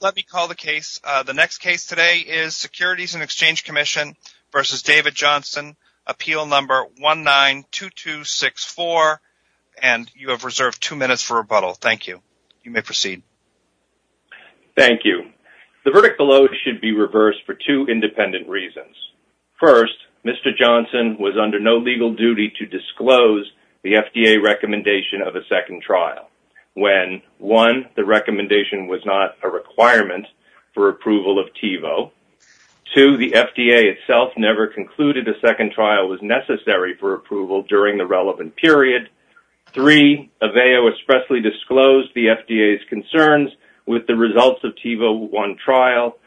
Let me call the case. The next case today is Securities & Exchange Comm'n v. David Johnston, Appeal No. 192264. And you have reserved two minutes for rebuttal. Thank you. You may proceed. Thank you. The verdict below should be reversed for two independent reasons. First, Mr. Johnston was under no legal duty to disclose the FDA recommendation of a second trial. When, one, the recommendation was not a requirement for approval of TiVo. Two, the FDA itself never concluded a second trial was necessary for approval during the relevant period. Three, Aveo expressly disclosed the FDA's concerns with the results of TiVo 1 trial.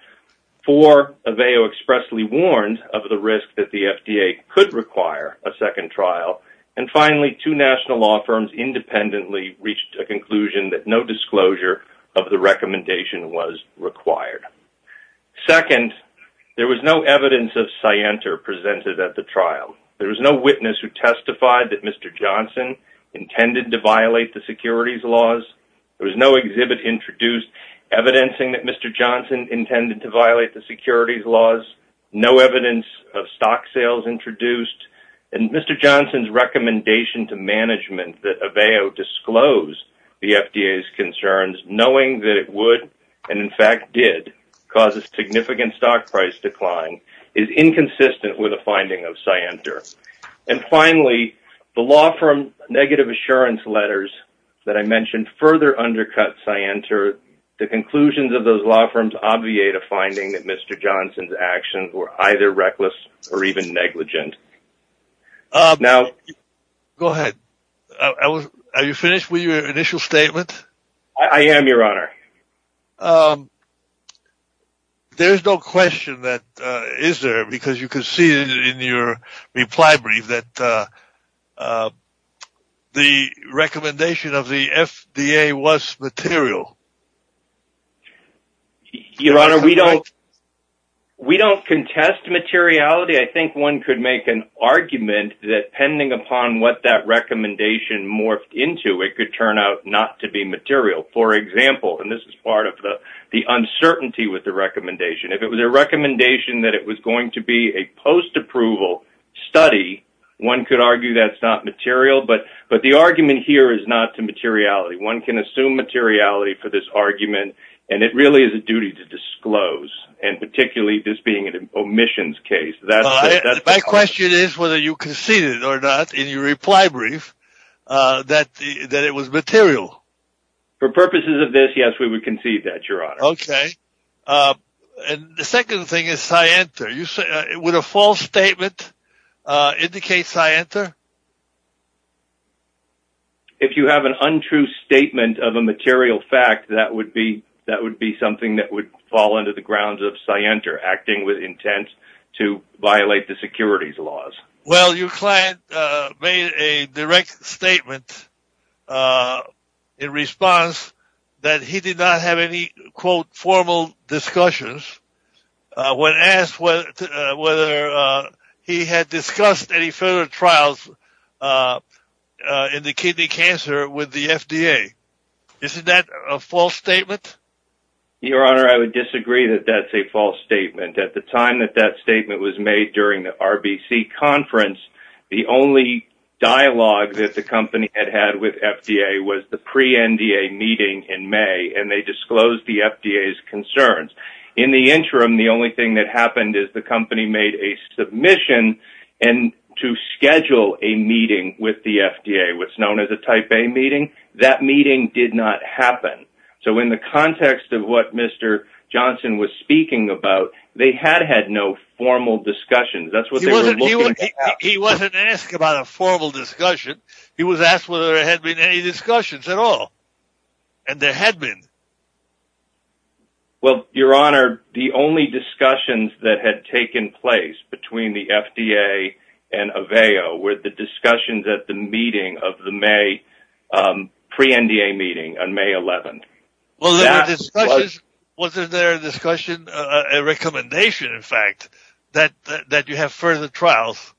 Four, Aveo expressly warned of the risk that the FDA could require a second trial. And finally, two national law firms independently reached a conclusion that no disclosure of the recommendation was required. Second, there was no evidence of scienter presented at the trial. There was no witness who testified that Mr. Johnston intended to violate the securities laws. There was no exhibit introduced evidencing that Mr. Johnston intended to violate the securities laws. No Mr. Johnston's recommendation to management that Aveo disclose the FDA's concerns knowing that it would and in fact did cause a significant stock price decline is inconsistent with a finding of scienter. And finally, the law firm negative assurance letters that I mentioned further undercut scienter. The conclusions of those law firms obviate a finding that Mr. Johnston's either reckless or even negligent. Now go ahead. Are you finished with your initial statement? I am your honor. There's no question that is there because you can see in your reply brief that the recommendation of the FDA was material. Your honor, we don't we don't contest materiality. I think one could make an argument that pending upon what that recommendation morphed into it could turn out not to be material. For example, and this is part of the the uncertainty with the could argue that's not material. But but the argument here is not to materiality. One can assume materiality for this argument. And it really is a duty to disclose and particularly this being an omissions case. That's my question is whether you conceded or not in your reply brief that that it was material for purposes of this. Yes, we would concede that your honor. Okay. And the second thing is Scienter. You say it with a false statement indicates I enter. If you have an untrue statement of a material fact, that would be that would be something that would fall into the grounds of Scienter acting with intent to violate the securities laws. Well, your client made a direct statement in response that he did not have any, quote, formal discussions. When asked what whether he had discussed any further trials in the kidney cancer with the FDA. Is that a false statement? Your honor, I would disagree that that's a false statement at the time that that conference, the only dialogue that the company had had with FDA was the pre NDA meeting in May, and they disclosed the FDA is concerned. In the interim, the only thing that happened is the company made a submission and to schedule a meeting with the FDA, what's known as a type A meeting, that meeting did not happen. So in the context of what Mr. Johnson was speaking about, they had had no formal discussions. That's what he wasn't asked about a formal discussion. He was asked whether there had been any discussions at all. And there had been. Well, your honor, the only discussions that had taken place between the FDA and avail with the discussions at the meeting of the May pre NDA meeting on May 11. Was there a discussion, a recommendation, in fact, that that you have further trials?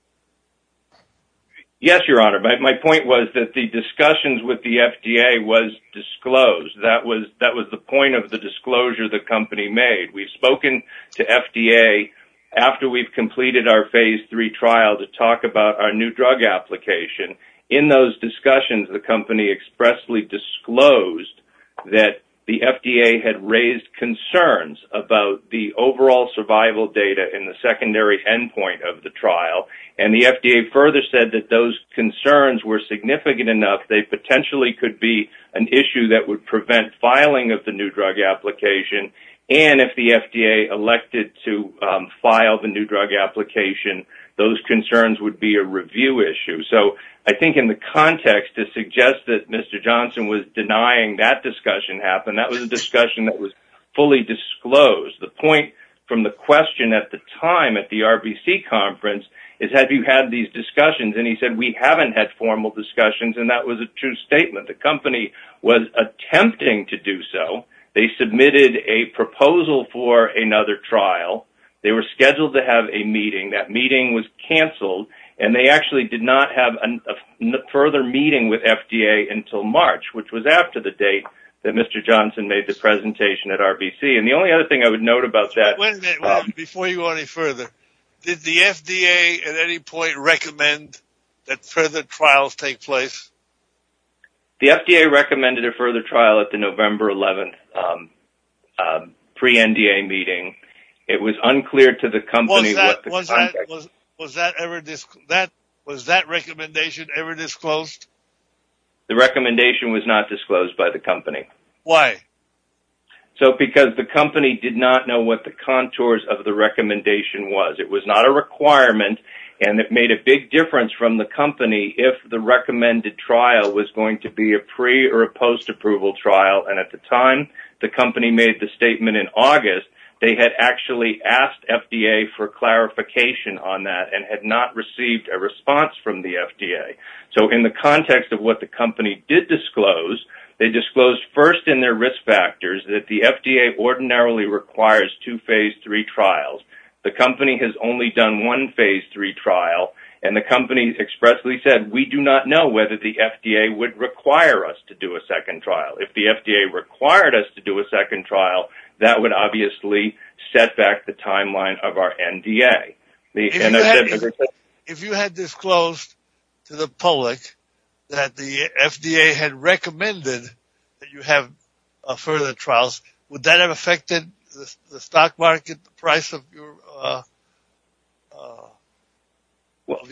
Yes, your honor. My point was that the discussions with the FDA was disclosed. That was that was the point of the disclosure the company made. We've spoken to FDA after we've completed our phase three trial to talk about our new drug application. In those discussions, the company expressly disclosed that the FDA had raised concerns about the overall survival data in the secondary endpoint of the trial. And the FDA further said that those concerns were significant enough they potentially could be an issue that would prevent filing of the new drug application. And if the FDA elected to file the new drug application, those concerns would be a review issue. So I think in the context to suggest that that discussion happened, that was a discussion that was fully disclosed. The point from the question at the time at the RBC conference is, have you had these discussions? And he said, we haven't had formal discussions. And that was a true statement. The company was attempting to do so. They submitted a proposal for another trial. They were scheduled to have a meeting. That meeting was canceled. And they Mr. Johnson made the presentation at RBC. And the only other thing I would note about that... Before you go any further, did the FDA at any point recommend that further trials take place? The FDA recommended a further trial at the November 11th pre-NDA meeting. It was unclear to the company... Was that recommendation ever disclosed? The recommendation was not disclosed by the company. Why? So because the company did not know what the contours of the recommendation was. It was not a requirement. And it made a big difference from the company if the recommended trial was going to be a pre- or a post-approval trial. And at the time the company made the statement in August, they had actually asked FDA for clarification on that and had not received a response from the FDA. So in the context of what the company did disclose, they disclosed first in their risk factors that the FDA ordinarily requires two phase three trials. The company has only done one phase three trial. And the company expressly said, we do not know whether the FDA would require us to do a second trial. If the FDA required us to do a second trial, that would obviously set back the timeline of our NDA. If you had disclosed to the public that the FDA had recommended that you have further trials, would that have affected the stock market, the price of your...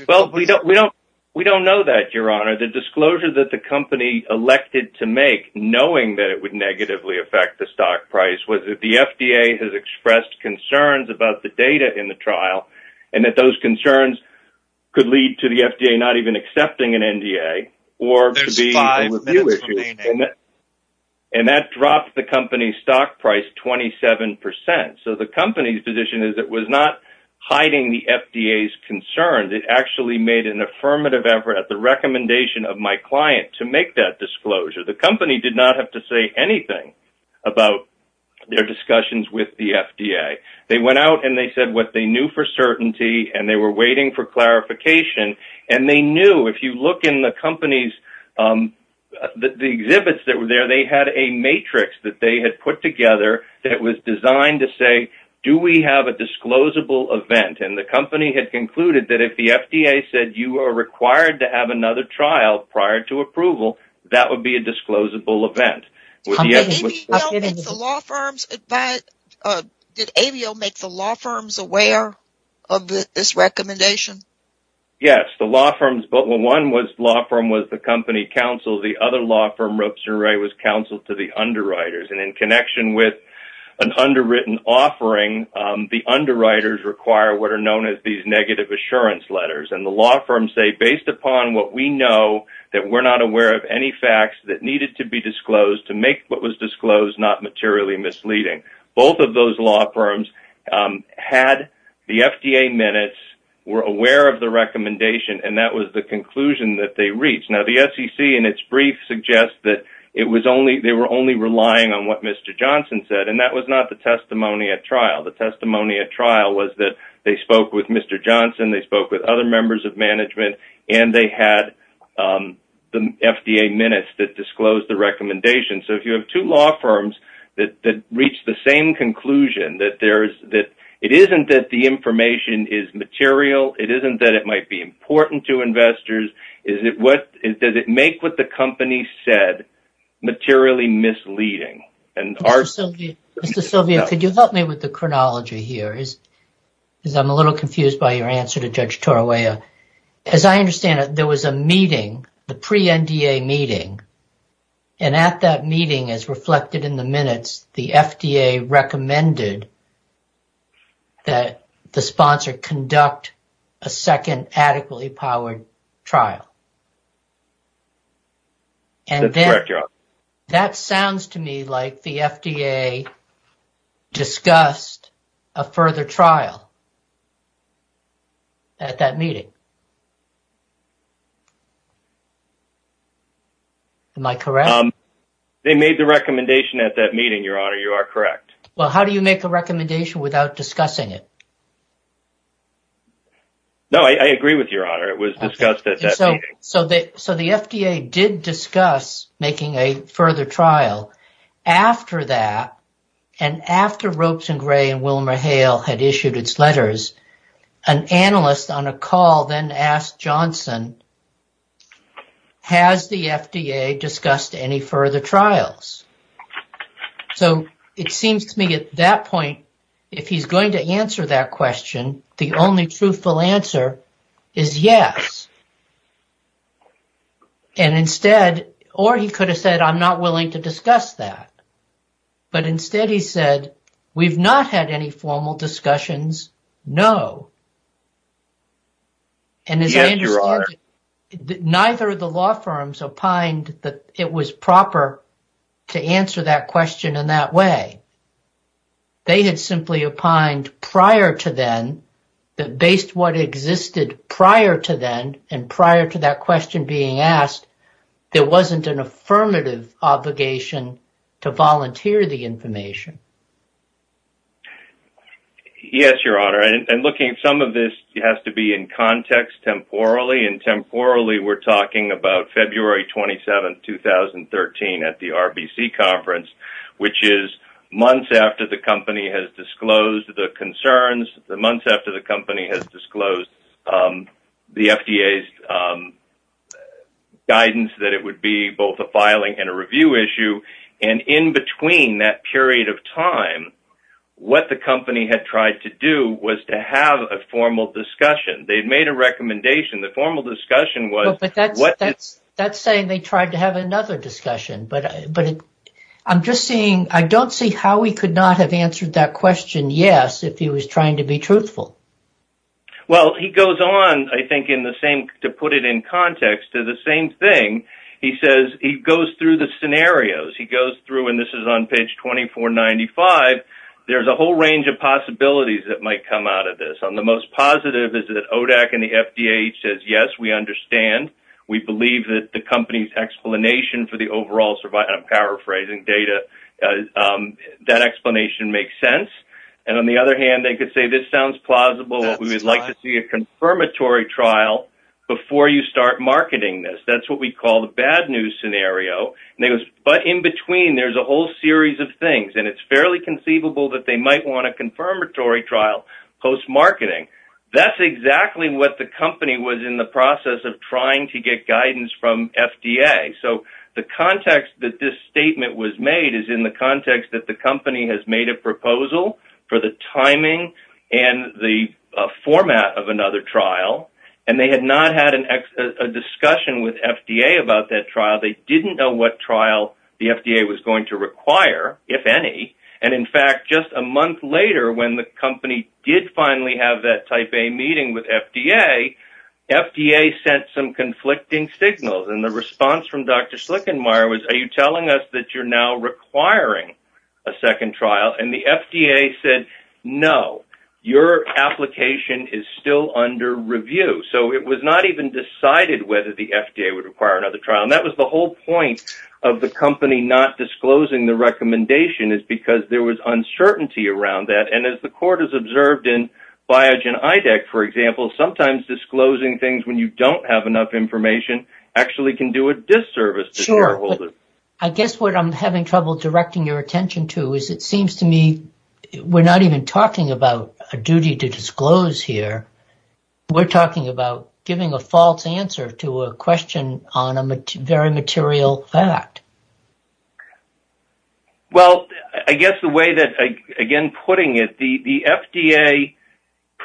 Well, we don't know that, your honor. The disclosure that the company elected to make, knowing that it would negatively affect the stock price, was that the FDA has expressed concerns about the data in the trial and that those concerns could lead to the FDA not even accepting an NDA or to be... There's five minutes remaining. And that dropped the company's stock price 27%. So the company's position is it was not hiding the FDA's concerns. It actually made an affirmative effort at the recommendation of my disclosure. The company did not have to say anything about their discussions with the FDA. They went out and they said what they knew for certainty and they were waiting for clarification. And they knew, if you look in the company's... The exhibits that were there, they had a matrix that they had put together that was designed to say, do we have a disclosable event? And the company had concluded that if the FDA said you are required to have another trial prior to approval, that would be a disclosable event. Did AVO make the law firms aware of this recommendation? Yes, the law firms... Well, one law firm was the company counsel. The other law firm, Robson Ray, was counsel to the underwriters. And in connection with an underwritten offering, the underwriters require what are known as these negative assurance letters. And the law firms say, based upon what we know, that we're not aware of any facts that needed to be disclosed to make what was disclosed not materially misleading. Both of those law firms had the FDA minutes, were aware of the recommendation, and that was the conclusion that they reached. Now, the SEC, in its brief, suggests that they were only relying on what Mr. Johnson said. And that was not the testimony at trial. The testimony at trial was that they spoke with Mr. Johnson, they spoke with other members of management, and they had the FDA minutes that disclosed the recommendation. So, if you have two law firms that reach the same conclusion that it isn't that the information is material, it isn't that it might be important to investors, does it make what the company said materially misleading? Mr. Sylvia, could you help me with the chronology here? Because I'm a little confused by your answer to Judge Torawaya. As I understand it, there was a meeting, the pre-NDA meeting, and at that meeting, as reflected in the minutes, the FDA recommended that the sponsor conduct a second adequately powered trial. That's correct, Your Honor. And that sounds to me like the FDA discussed a further trial at that meeting. Am I correct? They made the recommendation at that meeting, Your Honor. You are correct. Well, how do you make a recommendation without discussing it? No, I agree with you, Your Honor. It was discussed at that meeting. So, the FDA did discuss making a further trial. After that, and after Ropes and Gray and Wilmer Hale had issued its letters, an analyst on a call then asked Johnson, has the FDA discussed any further trials? So, it seems to me at that point, if he's going to question, the only truthful answer is yes. And instead, or he could have said, I'm not willing to discuss that. But instead, he said, we've not had any formal discussions, no. And as I understand it, neither of the law firms opined that it was proper to answer that question in that way. They had simply opined prior to then, that based what existed prior to then, and prior to that question being asked, there wasn't an affirmative obligation to volunteer the information. Yes, Your Honor. And looking at some of this, it has to be in context, temporally. And temporally, we're talking about February 27, 2013 at the RBC Conference, which is months after the company has disclosed the concerns, the months after the company has disclosed the FDA's guidance that it would be both a filing and a review issue. And in between that period of time, what the company had tried to do was to have a formal discussion. They'd made a recommendation. The formal discussion was... But that's saying they tried to have another discussion. But I'm just seeing, I don't see how he could not have answered that question, yes, if he was trying to be truthful. Well, he goes on, I think in the same, to put it in context to the same thing. He says, he goes through the scenarios. He goes through, and this is on page 2495. There's a whole range of possibilities that might come out of this. The most positive is that ODAC and the FDA says, yes, we understand. We believe that the company's explanation for the overall survival, and I'm paraphrasing data, that explanation makes sense. And on the other hand, they could say, this sounds plausible. We would like to see a confirmatory trial before you start marketing this. That's what we call the bad news scenario. But in between, there's a whole series of things. And it's fairly conceivable that they might want a confirmatory trial post-marketing. That's exactly what the company was in the process of trying to get guidance from FDA. So the context that this statement was made is in the context that the company has made a proposal for the timing and the format of another trial. And they had not had a discussion with FDA about that trial. They didn't know what trial the FDA was going to require, if any. And in fact, just a month later, when the company did finally have that type A meeting with FDA, FDA sent some conflicting signals. And the response from Dr. Slickenmire was, are you telling us that you're now requiring a second trial? And the FDA said, no, your application is still under review. So it was not even decided whether the FDA would require another trial. And that was the whole point of the company not disclosing the recommendation. It's because there was uncertainty around that. And as the court has observed in Biogen IDEC, for example, sometimes disclosing things when you don't have enough information actually can do a disservice. I guess what I'm having trouble directing your attention to is it seems to me, we're not even talking about a duty to disclose here. We're talking about giving a false answer to a question on a very material fact. Well, I guess the way that, again, putting it, the FDA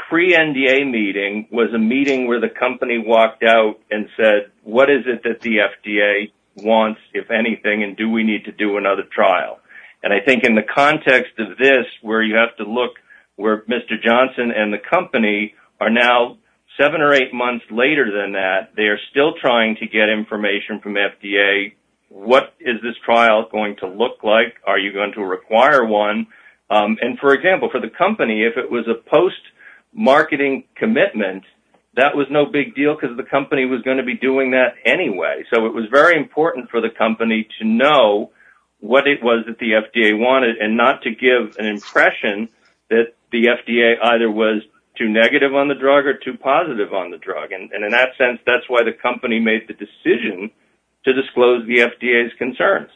pre-NDA meeting was a meeting where the company walked out and said, what is it that the FDA wants, if anything, and do we need to do another trial? And I think in the context of this, where you have to look, where Mr. Johnson and the company are now seven or eight months later than that, they are still trying to get information from FDA. What is this trial going to look like? Are you going to require one? And for example, for the company, if it was a post marketing commitment, that was no big deal because the company was going to be doing that anyway. So it was very important for the company to know what it was that the FDA wanted and not to give an impression that the FDA either was too negative on the drug or too positive on the drug. And that's why the company made the decision to disclose the FDA's concerns.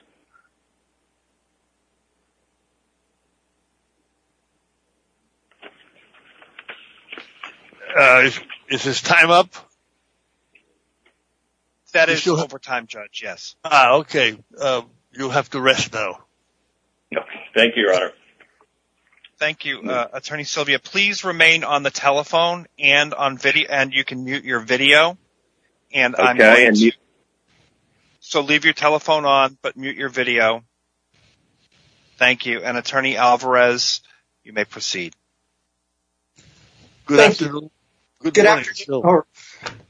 Is this time up? That is over time, Judge, yes. Ah, okay. You'll have to rest though. Thank you, Your Honor. Thank you, Attorney Sylvia. Please remain on the telephone and you can mute your video. So leave your telephone on, but mute your video. Thank you. And Attorney Alvarez, you may proceed. Good afternoon. Good morning, Your Honor.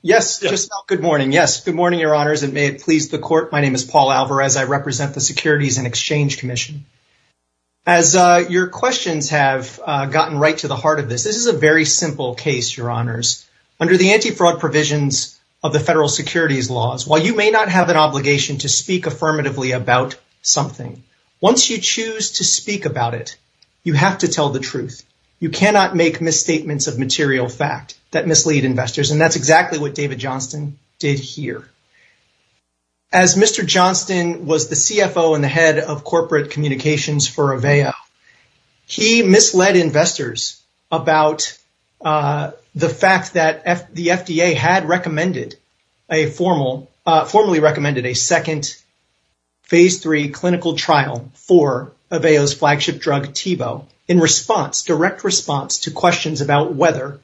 Yes, just good morning. Yes, good morning, Your Honors. And may it please the court, my name is Paul Alvarez. I represent the Securities and Exchange Commission. As your questions have gotten right to the heart of this, this is a very simple case, Your Honors. Under the anti-fraud provisions of the federal securities laws, while you may not have an obligation to speak affirmatively about something, once you choose to speak about it, you have to tell the truth. You cannot make misstatements of material fact that mislead investors. And that's exactly what David Johnston did here. As Mr. Johnston was the CFO and the head of corporate communications for Aveo, he misled investors about the fact that the FDA had recommended a formal, formally recommended a second phase three clinical trial for Aveo's flagship drug, TiVo, in response, direct response to questions about whether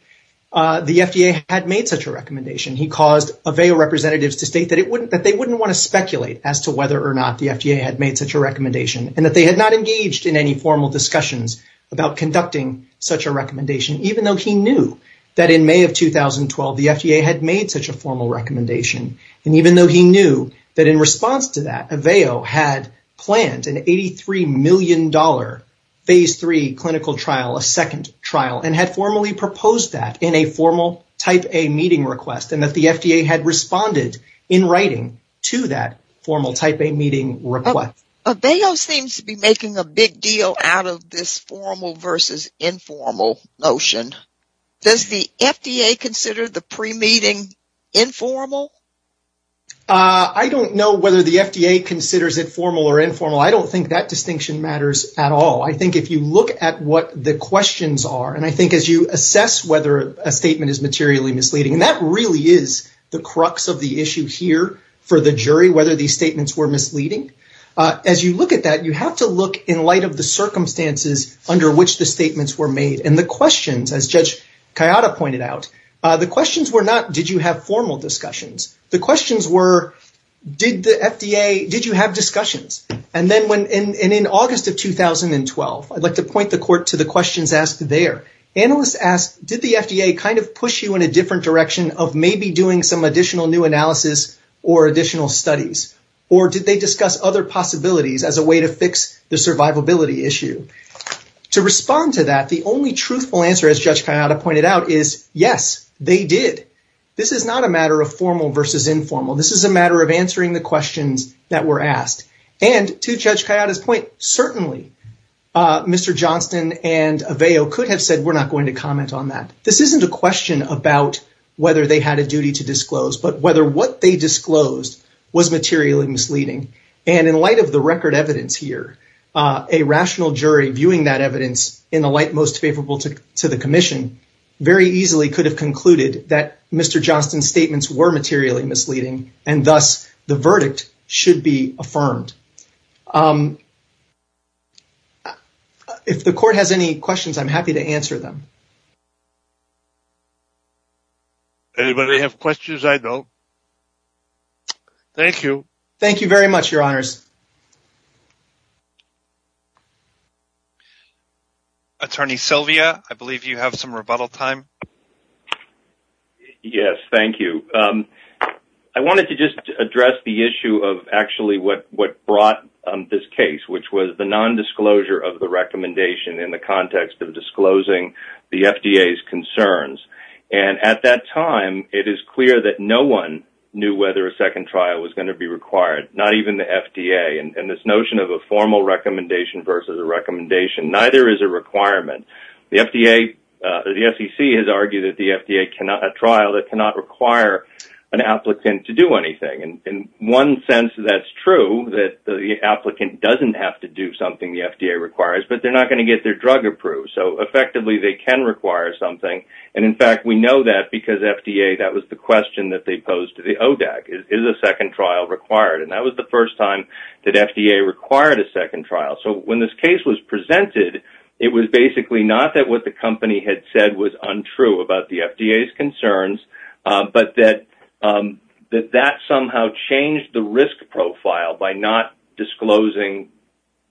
the FDA had made such a recommendation. He caused Aveo representatives to state that they wouldn't want to speculate as to whether or not the FDA had made such a recommendation and that they had not engaged in any formal discussions about conducting such a recommendation, even though he knew that in May of 2012, the FDA had made such a formal recommendation. And even though he knew that in response to that, Aveo had planned an $83 million phase three clinical trial, a second trial, and had formally proposed that in a formal type A meeting request and that the FDA had responded in writing to that formal type A meeting request. Aveo seems to be making a big deal out of this formal versus informal notion. Does the FDA consider the pre-meeting informal? I don't know whether the FDA considers it formal or informal. I don't think that distinction matters at all. I think if you look at what the questions are, and I think as you assess whether a statement is materially misleading, and that really is the crux of the issue here for the jury, whether these statements were misleading, as you look at that, you have to look in light of the circumstances under which the statements were made. And the questions, as Judge Kayada pointed out, the questions were not, did you have formal discussions? The questions were, did the FDA, did you have discussions? And then when, and in August of 2012, I'd like to point the court to the questions asked there. Analysts asked, did the FDA kind of push you in a different direction of maybe doing some additional new analysis or additional studies? Or did they discuss other possibilities as a way to fix the survivability issue? To respond to that, the only truthful answer, as Judge Kayada pointed out, is yes, they did. This is not a matter of formal versus informal. This is a matter of answering the questions that were asked. And to Judge Kayada's point, certainly Mr. Johnston and Aveo could have said, we're not going to comment on that. This isn't a question about whether they had a duty to disclose, but whether what they disclosed was materially misleading. And in light of the record evidence here, a rational jury viewing that evidence in the light most favorable to the commission very easily could have concluded that Mr. Johnston's statements were materially misleading. And thus, the verdict should be affirmed. If the court has any questions, I'm happy to answer them. Anybody have questions? I don't. Thank you. Thank you very much, Your Honors. Attorney Sylvia, I believe you have some rebuttal time. Yes. Thank you. I wanted to just address the issue of actually what brought this case, which was the nondisclosure of the recommendation in the context of disclosing the FDA's concerns. And at that time, it is clear that no one knew whether a second trial was going to be required, not even the FDA. And this notion of a formal recommendation versus a recommendation, neither is a requirement. The FDA, the SEC has argued that the FDA cannot, a trial that cannot require an applicant to do anything. And in one sense, that's true, that the applicant doesn't have to do something the FDA requires, but they're not going to get their drug approved. So effectively, they can require something. And in fact, we know that because FDA, that was the question that they posed to the ODAC, is a second trial required? And that was the first time that FDA required a second trial. And in fact, when the FDA requested, it was basically not that what the company had said was untrue about the FDA's concerns, but that that somehow changed the risk profile by not disclosing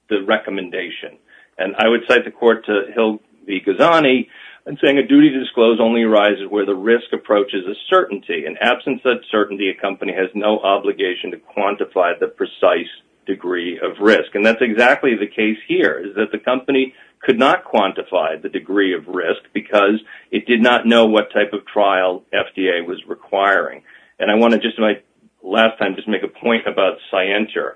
the recommendation. And I would cite the court to Hill v. Ghazani and saying a duty to disclose only arises where the risk approaches a certainty. In absence of that certainty, a company has no obligation to quantify the precise degree of risk. And that's exactly the case. The company could not quantify the degree of risk because it did not know what type of trial FDA was requiring. And I want to just, in my last time, just make a point about Cienture.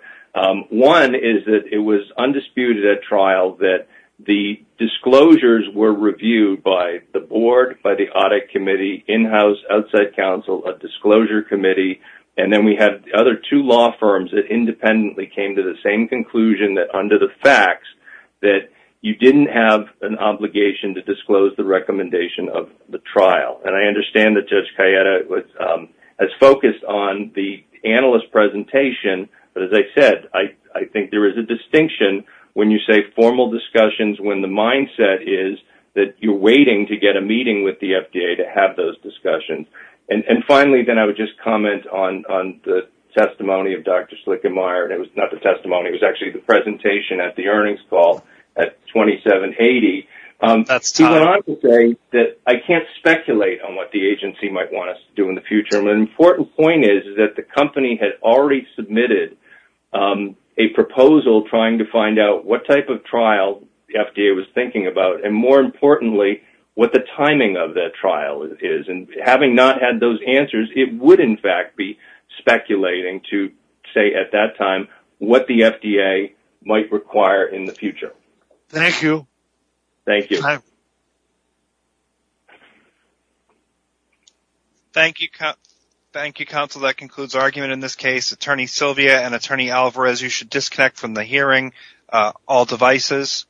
One is that it was undisputed at trial that the disclosures were reviewed by the board, by the audit committee, in-house, outside counsel, a disclosure committee. And then we had other two law firms that independently came to the same conclusion that under the facts, that you didn't have an obligation to disclose the recommendation of the trial. And I understand that Judge Cayetta has focused on the analyst presentation. But as I said, I think there is a distinction when you say formal discussions when the mindset is that you're waiting to get a meeting with the FDA to have those discussions. And finally, then I would just comment on the testimony of Dr. Slickenmire. And it was not the testimony. It was actually the presentation at the earnings call at 2780. That's time. I can't speculate on what the agency might want us to do in the future. An important point is that the company had already submitted a proposal trying to find out what type of trial the FDA was thinking about. And more importantly, what the timing of that trial is. And having not had those answers, it would in fact be speculating to say at that time what the FDA might require in the future. Thank you. Thank you. Thank you, counsel. That concludes our argument in this case. Attorney Silvia and Attorney Alvarez, you should disconnect from the hearing. All devices.